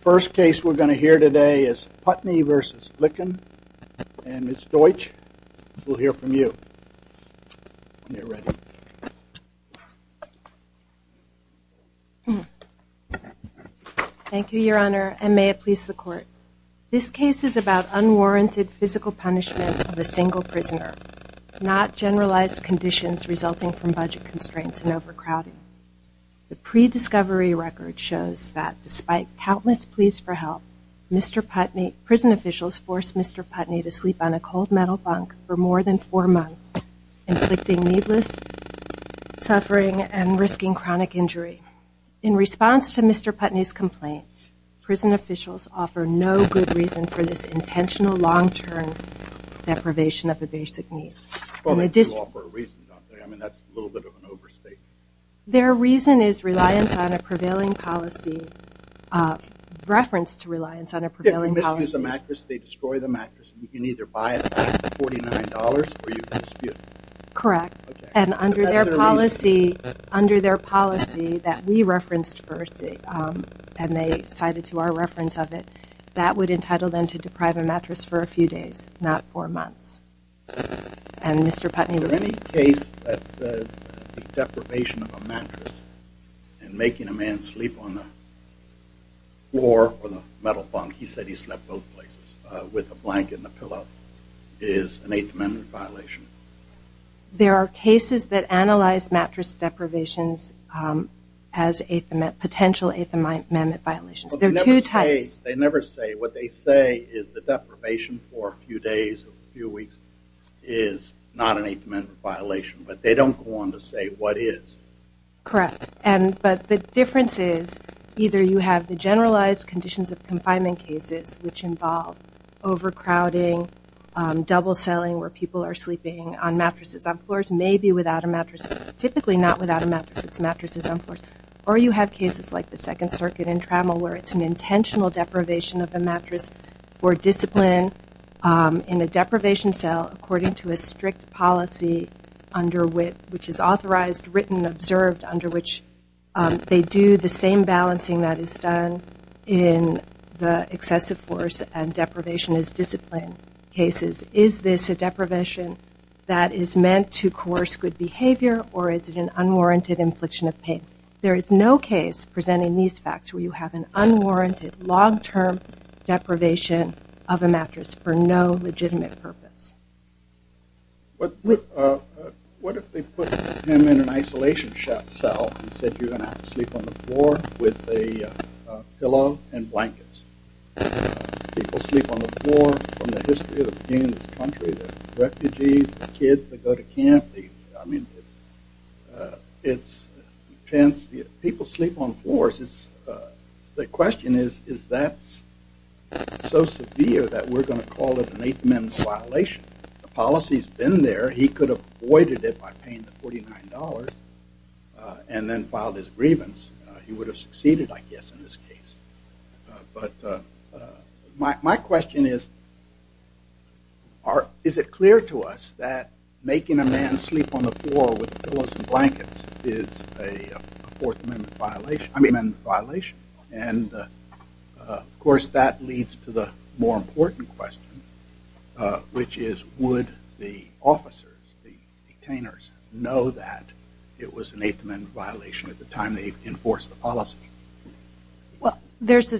First case we are going to hear today is Putney v. Likin and Ms. Deutsch will hear from you. Thank you, Your Honor, and may it please the Court. This case is about unwarranted physical punishment of a single prisoner, not generalized conditions resulting from budget constraints and overcrowding. The pre-discovery record shows that, despite countless pleas for help, prison officials forced Mr. Putney to sleep on a cold metal bunk for more than four months, inflicting needless suffering and risking chronic injury. In response to Mr. Putney's complaint, prison officials offer no good reason for this intentional long-term deprivation of a basic need. Their reason is reliance on a prevailing policy. Correct. And under their policy that we referenced first, and they cited to our reference of it, that would entitle them to deprive a mattress for a few days, not four months. Is there any case that says the deprivation of a mattress and making a man sleep on the floor or the metal bunk, he said he slept both places, with a blanket and a pillow, is an Eighth Amendment violation? There are cases that analyze mattress deprivations as potential Eighth Amendment violations. They never say what they say is the deprivation for a few days or a few weeks is not an Eighth Amendment violation, but they don't go on to say what is. Correct, but the difference is either you have the generalized conditions of confinement cases, which involve overcrowding, double-selling where people are sleeping on mattresses, on floors, maybe without a mattress. Typically not without a mattress, it's mattresses on floors. Or you have cases like the Second Circuit in Trammell where it's an intentional deprivation of a mattress for discipline in a deprivation cell according to a strict policy under WIT, which is authorized, written, observed, under which they do the same balancing that is done in the excessive force and deprivation as discipline cases. Is this a deprivation that is meant to coerce good behavior or is it an unwarranted infliction of pain? There is no case presenting these facts where you have an unwarranted long-term deprivation of a mattress for no legitimate purpose. What if they put him in an isolation cell and said you're going to have to sleep on the floor with a pillow and blankets? People sleep on the floor from the history of the beginning of this country, the refugees, the kids that go to camp. People sleep on floors. The question is that's so severe that we're going to call it an Eighth Amendment violation. The policy's been there. He could have avoided it by paying the $49 and then filed his grievance. He would have succeeded I guess in this case. But my question is, is it clear to us that making a man sleep on the floor with pillows and blankets is an Eighth Amendment violation? And of course that leads to the more important question, which is would the officers, the detainers, know that it was an Eighth Amendment violation at the time they enforced the policy? Well, there's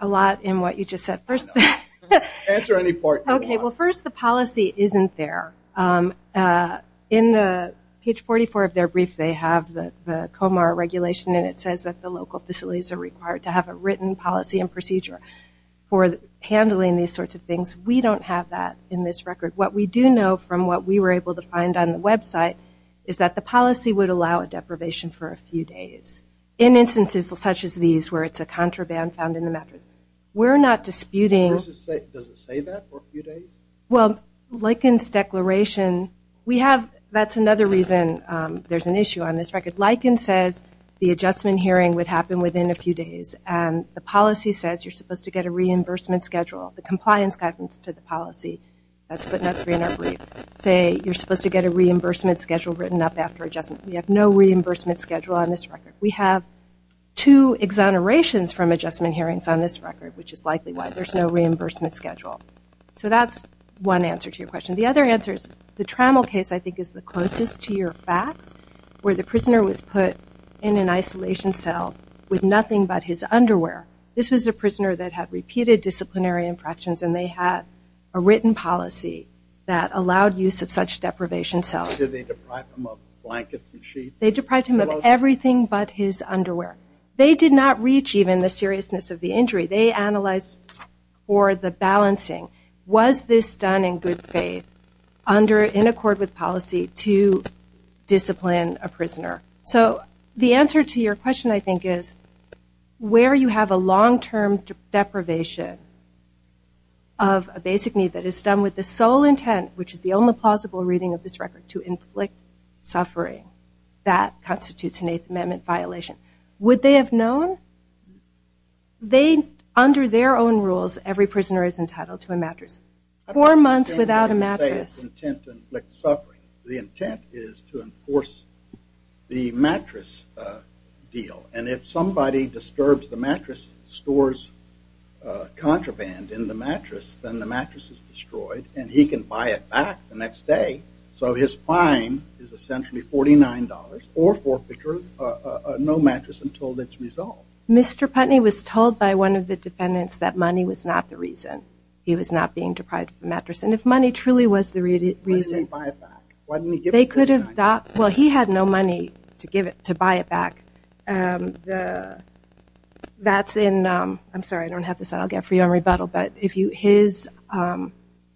a lot in what you just said. I know. Answer any part you want. Okay. Well, first, the policy isn't there. In page 44 of their brief, they have the COMAR regulation, and it says that the local facilities are required to have a written policy and procedure for handling these sorts of things. We don't have that in this record. What we do know from what we were able to find on the website is that the policy would allow a deprivation for a few days. In instances such as these where it's a contraband found in the mattress. We're not disputing. Does it say that for a few days? Well, Likens' declaration, we have, that's another reason there's an issue on this record. Likens says the adjustment hearing would happen within a few days, and the policy says you're supposed to get a reimbursement schedule. The compliance guidance to the policy, that's put in our brief, say you're supposed to get a reimbursement schedule written up after adjustment. We have no reimbursement schedule on this record. We have two exonerations from adjustment hearings on this record, which is likely why there's no reimbursement schedule. So that's one answer to your question. The other answer is the Trammell case I think is the closest to your facts, where the prisoner was put in an isolation cell with nothing but his underwear. This was a prisoner that had repeated disciplinary infractions, and they had a written policy that allowed use of such deprivation cells. Did they deprive him of blankets and sheets? They deprived him of everything but his underwear. They did not reach even the seriousness of the injury. They analyzed for the balancing. Was this done in good faith in accord with policy to discipline a prisoner? So the answer to your question I think is where you have a long-term deprivation of a basic need that is done with the sole intent, which is the only plausible reading of this record, to inflict suffering. That constitutes an Eighth Amendment violation. Would they have known? Under their own rules, every prisoner is entitled to a mattress. Four months without a mattress. The intent is to enforce the mattress deal, and if somebody disturbs the mattress, stores contraband in the mattress, then the mattress is destroyed and he can buy it back the next day. So his fine is essentially $49 or forfeiture, no mattress until it's resolved. Mr. Putney was told by one of the defendants that money was not the reason. He was not being deprived of a mattress, and if money truly was the reason, Why didn't he buy it back? Well, he had no money to buy it back. That's in, I'm sorry, I don't have this, I'll get it for you on rebuttal, but his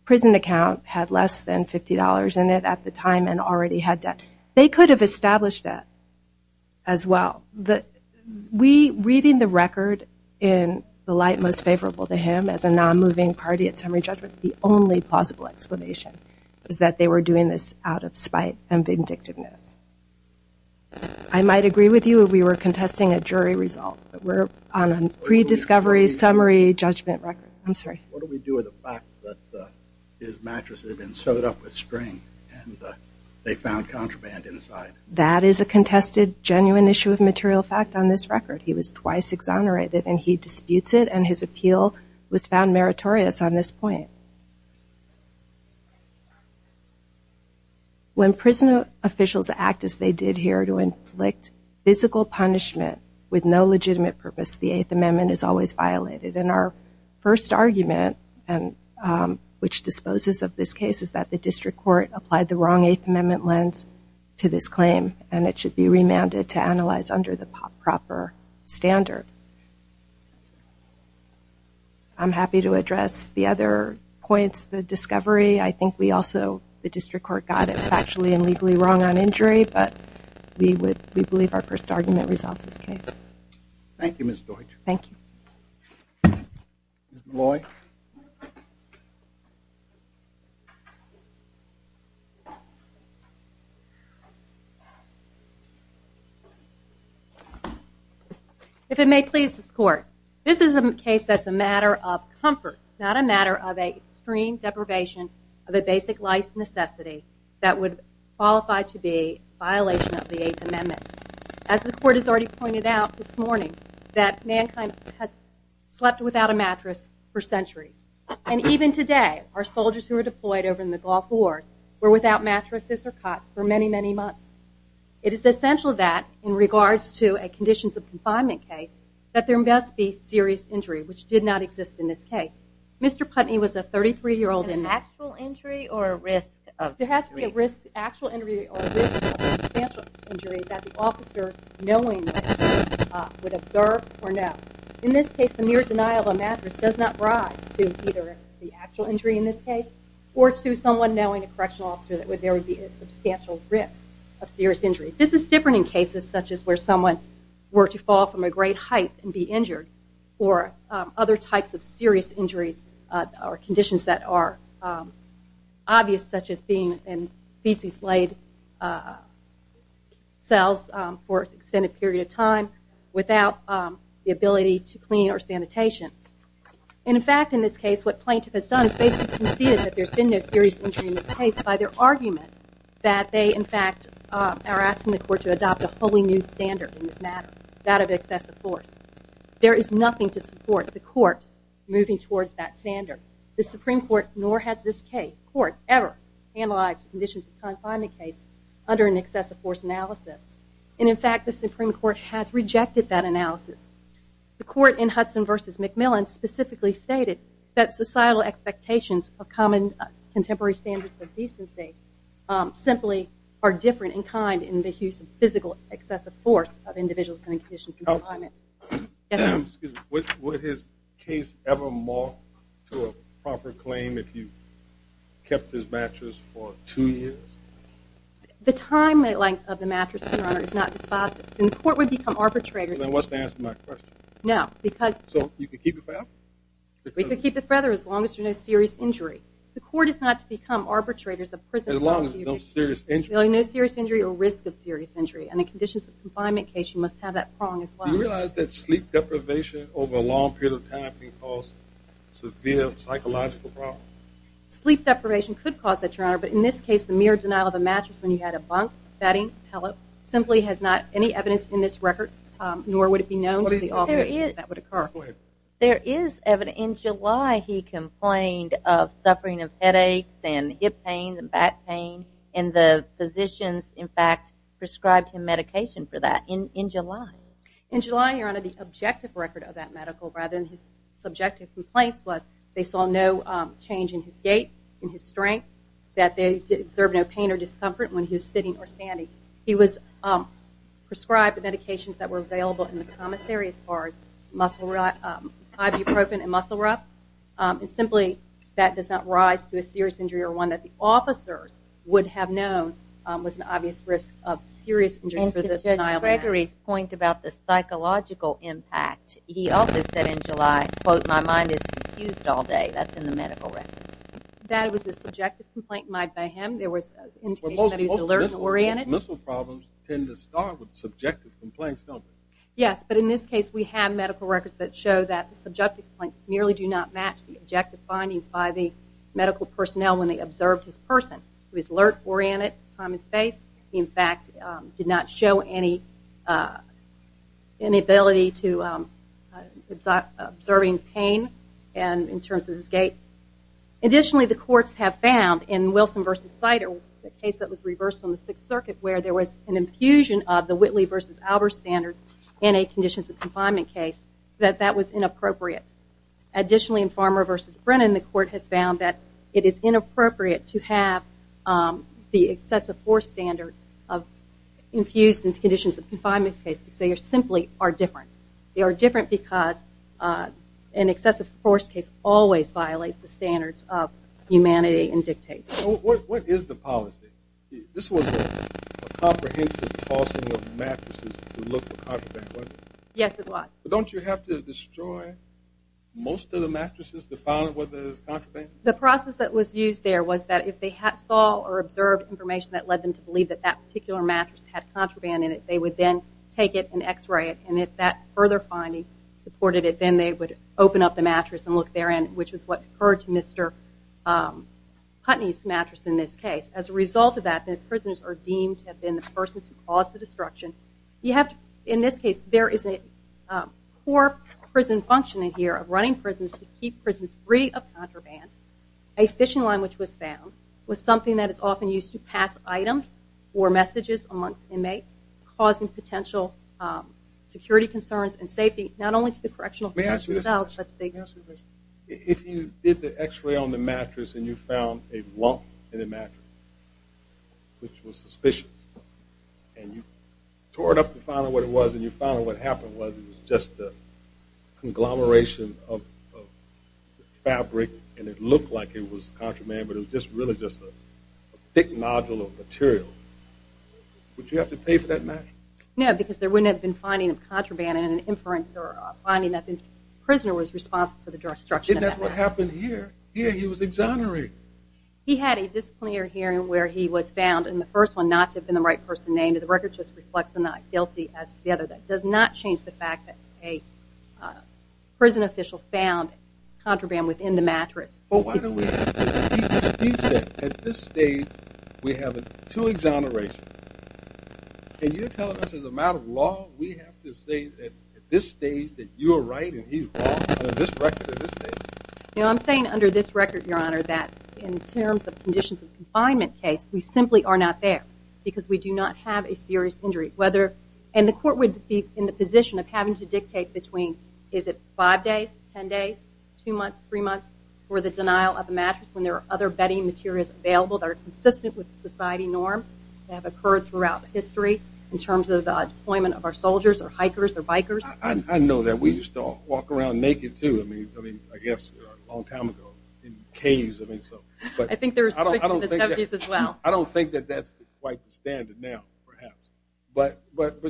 prison account had less than $50 in it at the time and already had debt. They could have established that as well. Reading the record in the light most favorable to him as a non-moving party at summary judgment, the only plausible explanation is that they were doing this out of spite and vindictiveness. I might agree with you if we were contesting a jury result, but we're on a pre-discovery summary judgment record. I'm sorry. What do we do with the facts that his mattress had been sewed up with string and they found contraband inside? That is a contested, genuine issue of material fact on this record. He was twice exonerated and he disputes it and his appeal was found meritorious on this point. When prison officials act as they did here to inflict physical punishment with no legitimate purpose, the Eighth Amendment is always violated. And our first argument, which disposes of this case, is that the district court applied the wrong Eighth Amendment lens to this claim and it should be remanded to analyze under the proper standard. I'm happy to address the other points, the discovery. I think we also, the district court got it factually and legally wrong on injury, but we believe our first argument resolves this case. Thank you, Ms. Deutsch. Thank you. Ms. Molloy. If it may please this court, this is a case that's a matter of comfort, not a matter of an extreme deprivation of a basic life necessity that would qualify to be a violation of the Eighth Amendment. As the court has already pointed out this morning, that mankind has slept without a mattress for centuries. And even today, our soldiers who were deployed over in the Gulf War were without mattresses or cots for many, many months. It is essential that, in regards to a conditions of confinement case, that there must be serious injury, which did not exist in this case. Mr. Putney was a 33-year-old. An actual injury or a risk of injury? An actual injury or a risk of substantial injury that the officer knowingly would observe or know. In this case, the mere denial of a mattress does not rise to either the actual injury in this case or to someone knowing a correctional officer that there would be a substantial risk of serious injury. This is different in cases such as where someone were to fall from a great height and be injured or other types of serious injuries or conditions that are obvious, such as being in feces-laid cells for an extended period of time without the ability to clean or sanitation. In fact, in this case, what plaintiff has done is basically conceded that there's been no serious injury in this case by their argument that they, in fact, are asking the court to adopt a wholly new standard in this matter, that of excessive force. There is nothing to support the court moving towards that standard. The Supreme Court nor has this court ever analyzed conditions of confinement case under an excessive force analysis. And, in fact, the Supreme Court has rejected that analysis. The court in Hudson v. McMillan specifically stated that societal expectations of common contemporary standards of decency simply are different in kind in the use of physical excessive force of individuals in conditions of confinement. Would his case ever mark to a proper claim if you kept his mattress for two years? The time and length of the mattress, Your Honor, is not dispositive. And the court would become arbitrators. Then what's the answer to my question? No, because... So you could keep it forever? We could keep it forever as long as there's no serious injury. The court is not to become arbitrators of prison. As long as there's no serious injury. There's really no serious injury or risk of serious injury. And in conditions of confinement case, you must have that prong as well. Do you realize that sleep deprivation over a long period of time can cause severe psychological problems? Sleep deprivation could cause that, Your Honor. But in this case, the mere denial of a mattress when you had a bunk, bedding, pellet simply has not any evidence in this record, nor would it be known to the authorities that that would occur. There is evidence. In July, he complained of suffering of headaches and hip pain and back pain. And the physicians, in fact, prescribed him medication for that in July. In July, Your Honor, the objective record of that medical, rather than his subjective complaints, was they saw no change in his gait, in his strength, that they observed no pain or discomfort when he was sitting or standing. He was prescribed medications that were available in the commissary as far as ibuprofen and muscle rough. And simply, that does not rise to a serious injury or one that the officers would have known was an obvious risk of serious injury for the denial of a mattress. And to Judge Gregory's point about the psychological impact, he also said in July, quote, my mind is confused all day. That's in the medical records. That was a subjective complaint made by him. There was indication that he was alert and oriented. Well, most mental problems tend to start with subjective complaints, don't they? Yes, but in this case, we have medical records that show that the subjective complaints merely do not match the objective findings by the medical personnel when they observed his person. He was alert, oriented, time and space. He, in fact, did not show any inability to observing pain in terms of his gait. Additionally, the courts have found in Wilson v. Sider, the case that was reversed on the Sixth Circuit, where there was an infusion of the Whitley v. Albers standards in a conditions of confinement case, that that was inappropriate. Additionally, in Farmer v. Brennan, the court has found that it is inappropriate to have the excessive force standard infused in conditions of confinement case because they simply are different. They are different because an excessive force case always violates the standards of humanity and dictates. What is the policy? This was a comprehensive tossing of mattresses to look for contraband, wasn't it? Yes, it was. But don't you have to destroy most of the mattresses to find what is contraband? The process that was used there was that if they saw or observed information that led them to believe that that particular mattress had contraband in it, they would then take it and x-ray it. And if that further finding supported it, then they would open up the mattress and look therein, which is what occurred to Mr. Putney's mattress in this case. As a result of that, the prisoners are deemed to have been the persons who caused the destruction. In this case, there is a poor prison functioning here of running prisons to keep prisons free of contraband. A fishing line which was found was something that is often used to pass items or messages amongst inmates, causing potential security concerns and safety, not only to the correctional facilities themselves but to the inmates. If you did the x-ray on the mattress and you found a lump in the mattress, which was suspicious, and you tore it up to find out what it was and you found out what happened was it was just a conglomeration of fabric and it looked like it was contraband but it was really just a thick nodule of material, would you have to pay for that mattress? No, because there wouldn't have been finding of contraband in an inference or finding that the prisoner was responsible for the destruction of that mattress. Isn't that what happened here? Here he was exonerated. He had a disciplinary hearing where he was found in the first one not to have been the right person named. The record just reflects the not guilty as to the other. That does not change the fact that a prison official found contraband within the mattress. Well, why don't we excuse that? At this stage, we have two exonerations. Can you tell us as a matter of law, we have to say at this stage that you are right and he is wrong under this record at this stage? You know, I'm saying under this record, Your Honor, that in terms of conditions of confinement case, we simply are not there because we do not have a serious injury. And the court would be in the position of having to dictate between, is it five days, ten days, two months, three months for the denial of the mattress when there are other bedding materials available that are consistent with society norms that have occurred throughout history in terms of the deployment of our soldiers or hikers or bikers. I know that. We used to all walk around naked, too. I mean, I guess a long time ago in caves. I think there was something in the 70s as well. I don't think that that's quite the standard now, perhaps. But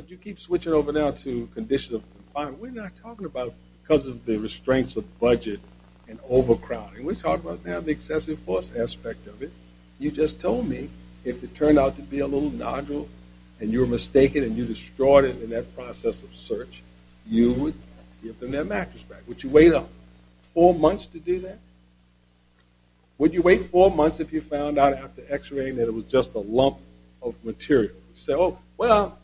you keep switching over now to conditions of confinement. We're not talking about because of the restraints of budget and overcrowding. We're talking about now the excessive force aspect of it. You just told me if it turned out to be a little nodule and you were mistaken and you destroyed it in that process of search, you would give them their mattress back. Would you wait four months to do that? Would you wait four months if you found out after X-raying that it was just a lump of material? You say, oh, well,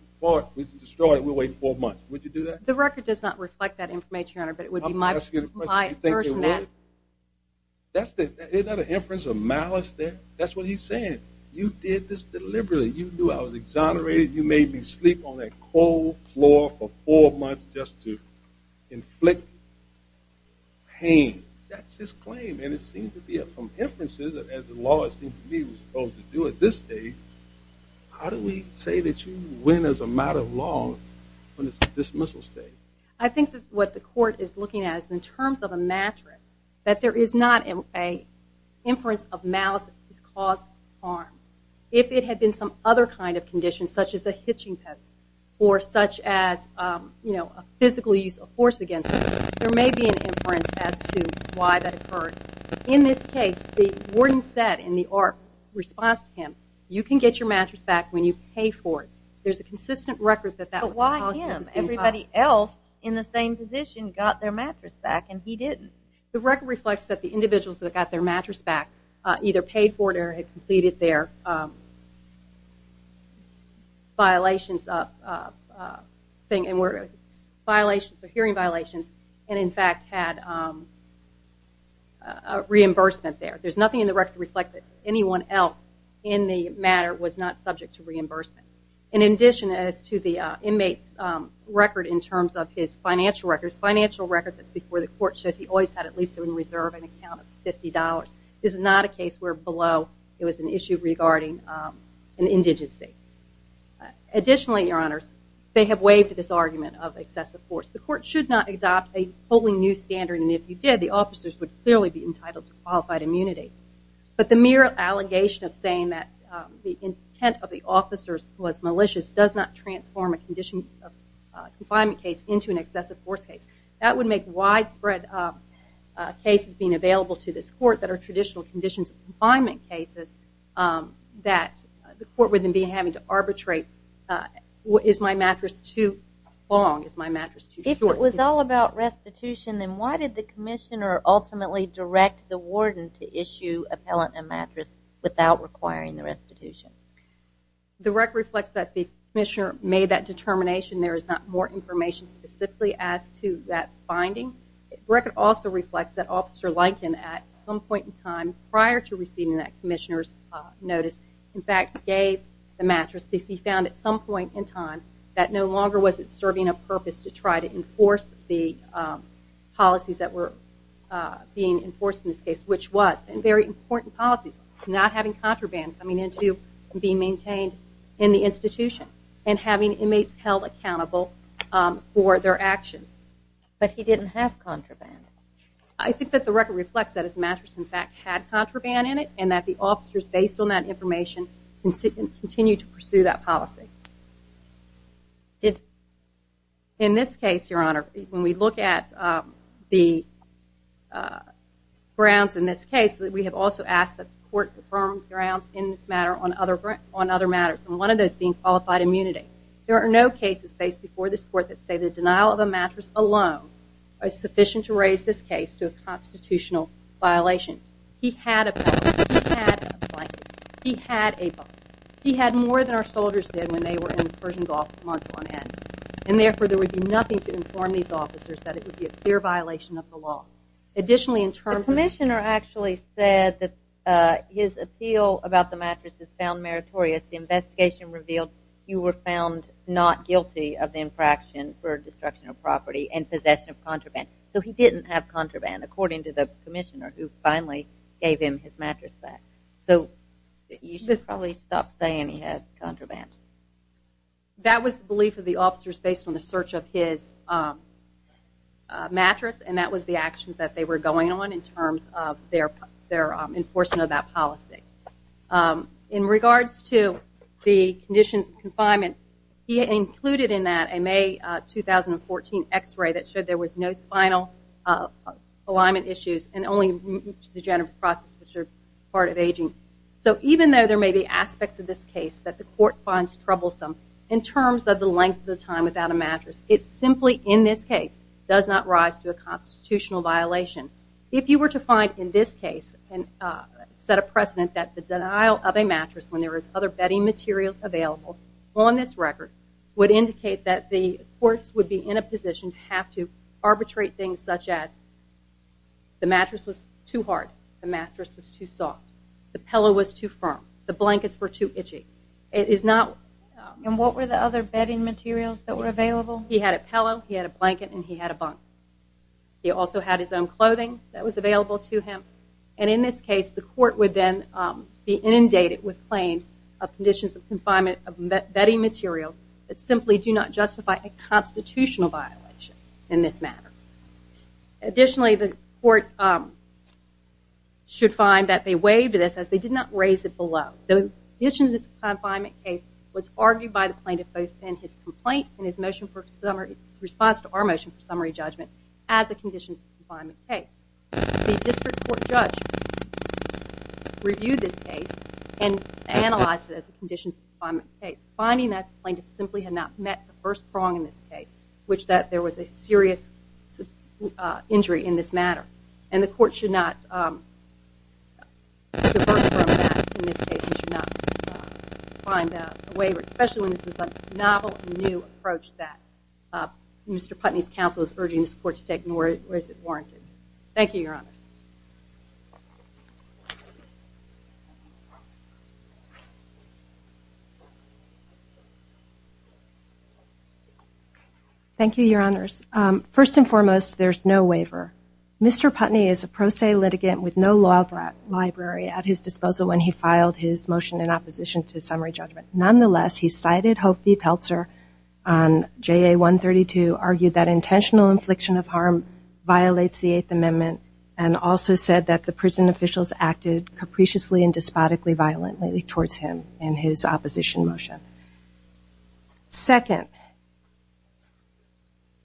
we destroyed it. We'll wait four months. Would you do that? The record does not reflect that information, Your Honor, but it would be my assertion that. Isn't that an inference of malice there? That's what he's saying. You did this deliberately. You knew I was exonerated. You made me sleep on that cold floor for four months just to inflict pain. That's his claim, and it seems to be from inferences as the law, it seems to me, was supposed to do at this stage. How do we say that you win as a matter of law when it's a dismissal state? I think that what the court is looking at is in terms of a mattress, that there is not an inference of malice that has caused harm. If it had been some other kind of condition, such as a hitching post or such as, you know, a physical use of force against me, there may be an inference as to why that occurred. In this case, the warden said in the ARP response to him, you can get your mattress back when you pay for it. There's a consistent record that that was the policy that was being followed. But why him? Everybody else in the same position got their mattress back, and he didn't. The record reflects that the individuals that got their mattress back either paid for it or had completed their hearing violations and, in fact, had reimbursement there. There's nothing in the record to reflect that anyone else in the matter was not subject to reimbursement. In addition, as to the inmate's record in terms of his financial record, there's financial record that's before the court shows he always had at least in reserve an account of $50. This is not a case where below it was an issue regarding an indigency. Additionally, Your Honors, they have waived this argument of excessive force. The court should not adopt a wholly new standard, and if you did, the officers would clearly be entitled to qualified immunity. But the mere allegation of saying that the intent of the officers was malicious does not transform a condition of confinement case into an excessive force case. That would make widespread cases being available to this court that are traditional conditions of confinement cases that the court would then be having to arbitrate, is my mattress too long, is my mattress too short? If it was all about restitution, then why did the commissioner ultimately direct the warden to issue appellant a mattress without requiring the restitution? The record reflects that the commissioner made that determination. There is not more information specifically as to that finding. The record also reflects that Officer Liken at some point in time prior to receiving that commissioner's notice, in fact, gave the mattress because he found at some point in time that no longer was it serving a purpose to try to enforce the policies that were being enforced in this case, which was very important policies, not having contraband coming into being maintained in the institution and having inmates held accountable for their actions. But he didn't have contraband. I think that the record reflects that his mattress, in fact, had contraband in it and that the officers, based on that information, continued to pursue that policy. In this case, Your Honor, when we look at the grounds in this case, we have also asked that the court confirm grounds in this matter on other matters, and one of those being qualified immunity. There are no cases faced before this court that say the denial of a mattress alone is sufficient to raise this case to a constitutional violation. He had a blanket. He had a blanket. He had a blanket. And therefore, there would be nothing to inform these officers that it would be a clear violation of the law. Additionally, in terms of... The commissioner actually said that his appeal about the mattress is found meritorious. The investigation revealed you were found not guilty of the infraction for destruction of property and possession of contraband. So he didn't have contraband, according to the commissioner, who finally gave him his mattress back. So you should probably stop saying he had contraband. That was the belief of the officers based on the search of his mattress, and that was the actions that they were going on in terms of their enforcement of that policy. In regards to the conditions of confinement, he included in that a May 2014 x-ray that showed there was no spinal alignment issues and only degenerative processes, which are part of aging. So even though there may be aspects of this case that the court finds troublesome in terms of the length of the time without a mattress, it simply, in this case, does not rise to a constitutional violation. If you were to find in this case and set a precedent that the denial of a mattress when there is other bedding materials available on this record would indicate that the courts would be in a position to have to arbitrate things such as the mattress was too hard, the mattress was too soft, the pillow was too firm, the blankets were too itchy. And what were the other bedding materials that were available? He had a pillow, he had a blanket, and he had a bunk. He also had his own clothing that was available to him. And in this case, the court would then be inundated with claims of conditions of confinement of bedding materials that simply do not justify a constitutional violation in this matter. Additionally, the court should find that they waived this as they did not raise it below. The conditions of confinement case was argued by the plaintiff both in his complaint and his motion for summary response to our motion for summary judgment as a conditions of confinement case. The district court judge reviewed this case and analyzed it as a conditions of confinement case. Finding that the plaintiff simply had not met the first prong in this case, which that there was a serious injury in this matter. And the court should not divert from that in this case and should not find that a waiver, especially when this is a novel and new approach that Mr. Putney's counsel is urging this court to take nor is it warranted. Thank you, Your Honors. Thank you, Your Honors. First and foremost, there's no waiver. Mr. Putney is a pro se litigant with no law library at his disposal when he filed his motion in opposition to summary judgment. Nonetheless, he cited Hopfe-Peltzer on JA 132, argued that intentional infliction of harm violates the Eighth Amendment and also said that the prison officials acted capriciously and despotically violently towards him in his opposition motion. Second,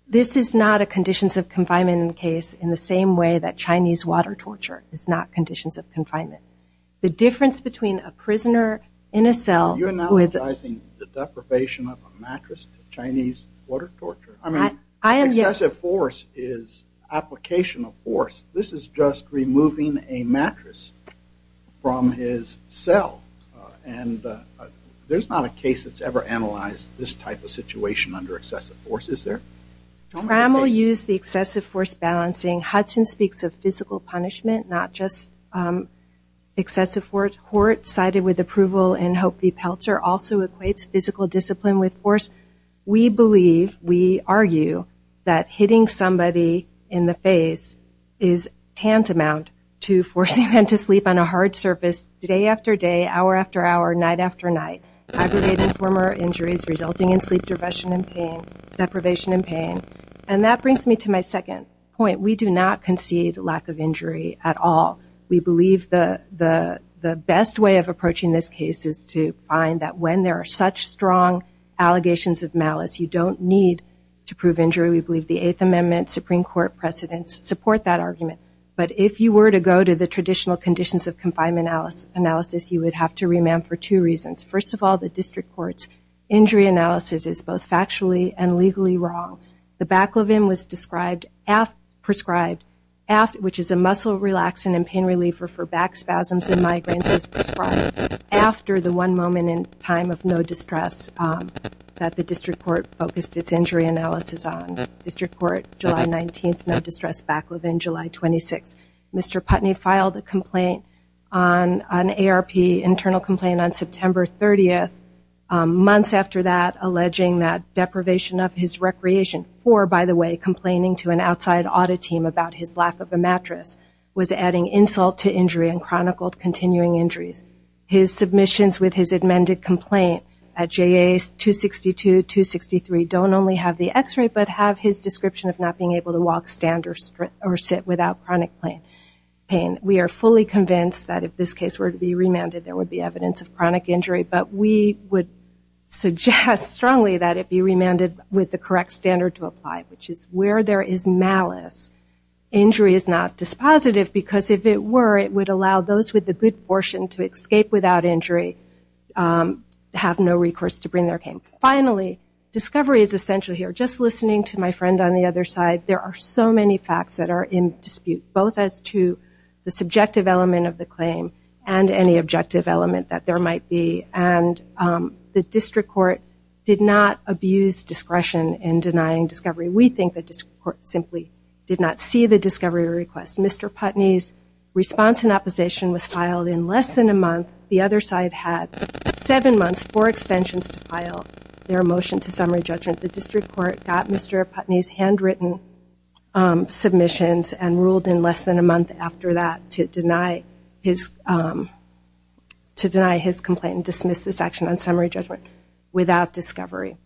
this is not a conditions of confinement case in the same way that Chinese water torture is not conditions of confinement. The difference between a prisoner in a cell with... Are you analogizing the deprivation of a mattress to Chinese water torture? I am, yes. Excessive force is application of force. This is just removing a mattress from his cell. There's not a case that's ever analyzed this type of situation under excessive force, is there? Crammel used the excessive force balancing. Hudson speaks of physical punishment, not just excessive force. Hort, cited with approval in Hopfe-Peltzer, also equates physical discipline with force. We believe, we argue, that hitting somebody in the face is tantamount to forcing them to sleep on a hard surface day after day, hour after hour, night after night, aggregating former injuries resulting in sleep depression and pain, deprivation and pain. And that brings me to my second point. We do not concede lack of injury at all. We believe the best way of approaching this case is to find that when there are such strong allegations of malice, you don't need to prove injury. We believe the Eighth Amendment, Supreme Court precedents support that argument. But if you were to go to the traditional conditions of confinement analysis, you would have to remand for two reasons. First of all, the district court's injury analysis is both factually and legally wrong. The Baclavin was prescribed, which is a muscle relaxant and pain reliever for back spasms and migraines, was prescribed after the one moment in time of no distress that the district court focused its injury analysis on. District Court, July 19th, no distress, Baclavin, July 26th. Mr. Putney filed a complaint, an ARP internal complaint on September 30th. Months after that, alleging that deprivation of his recreation for, by the way, complaining to an outside audit team about his lack of a mattress, was adding insult to injury and chronicled continuing injuries. His submissions with his amended complaint at J.A. 262, 263, don't only have the x-ray but have his description of not being able to walk, stand, or sit without chronic pain. We are fully convinced that if this case were to be remanded, there would be evidence of chronic injury, but we would suggest strongly that it be remanded with the correct standard to apply, which is where there is malice, injury is not dispositive, because if it were, it would allow those with the good portion to escape without injury, have no recourse to bring their pain. Finally, discovery is essential here. Just listening to my friend on the other side, there are so many facts that are in dispute, both as to the subjective element of the claim and any objective element that there might be, and the district court did not abuse discretion in denying discovery. We think the district court simply did not see the discovery request. Mr. Putney's response in opposition was filed in less than a month. The other side had seven months, four extensions to file their motion to summary judgment. The district court got Mr. Putney's handwritten submissions and ruled in less than a month after that to deny his complaint and dismiss this action on summary judgment without discovery.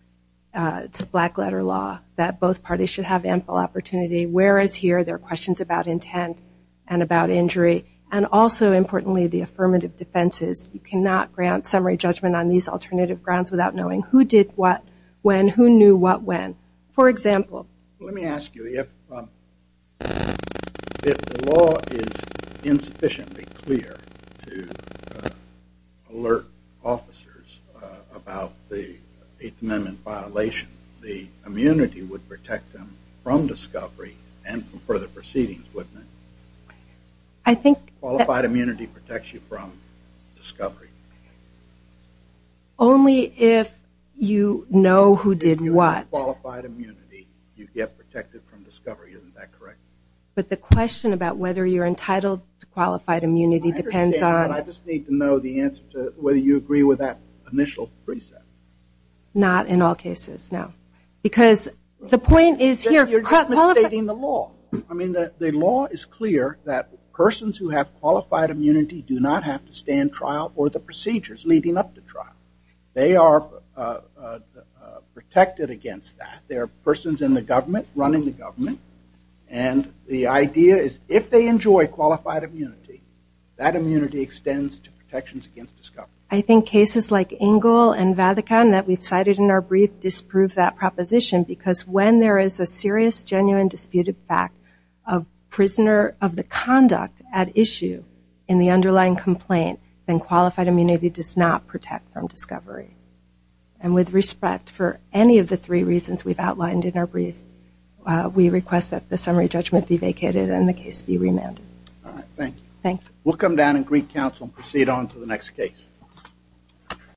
It's black-letter law that both parties should have ample opportunity, whereas here there are questions about intent and about injury, and also, importantly, the affirmative defenses. You cannot grant summary judgment on these alternative grounds without knowing who did what when, who knew what when. For example. Let me ask you, if the law is insufficiently clear to alert officers about the Eighth Amendment violation, the immunity would protect them from discovery and from further proceedings, wouldn't it? Qualified immunity protects you from discovery. Only if you know who did what. If you have qualified immunity, you get protected from discovery. Isn't that correct? But the question about whether you're entitled to qualified immunity depends on... I understand that. I just need to know the answer to whether you agree with that initial precept. Not in all cases, no. Because the point is here... You're just misstating the law. I mean, the law is clear that persons who have qualified immunity do not have to stand trial or the procedures leading up to trial. They are protected against that. They are persons in the government, running the government, and the idea is if they enjoy qualified immunity, that immunity extends to protections against discovery. I think cases like Ingle and Vatican that we've cited in our brief disprove that proposition because when there is a serious, genuine, disputed fact of prisoner of the conduct at issue in the underlying complaint, then qualified immunity does not protect from discovery. And with respect for any of the three reasons we've outlined in our brief, we request that the summary judgment be vacated and the case be remanded. Thank you. We'll come down and greet counsel and proceed on to the next case.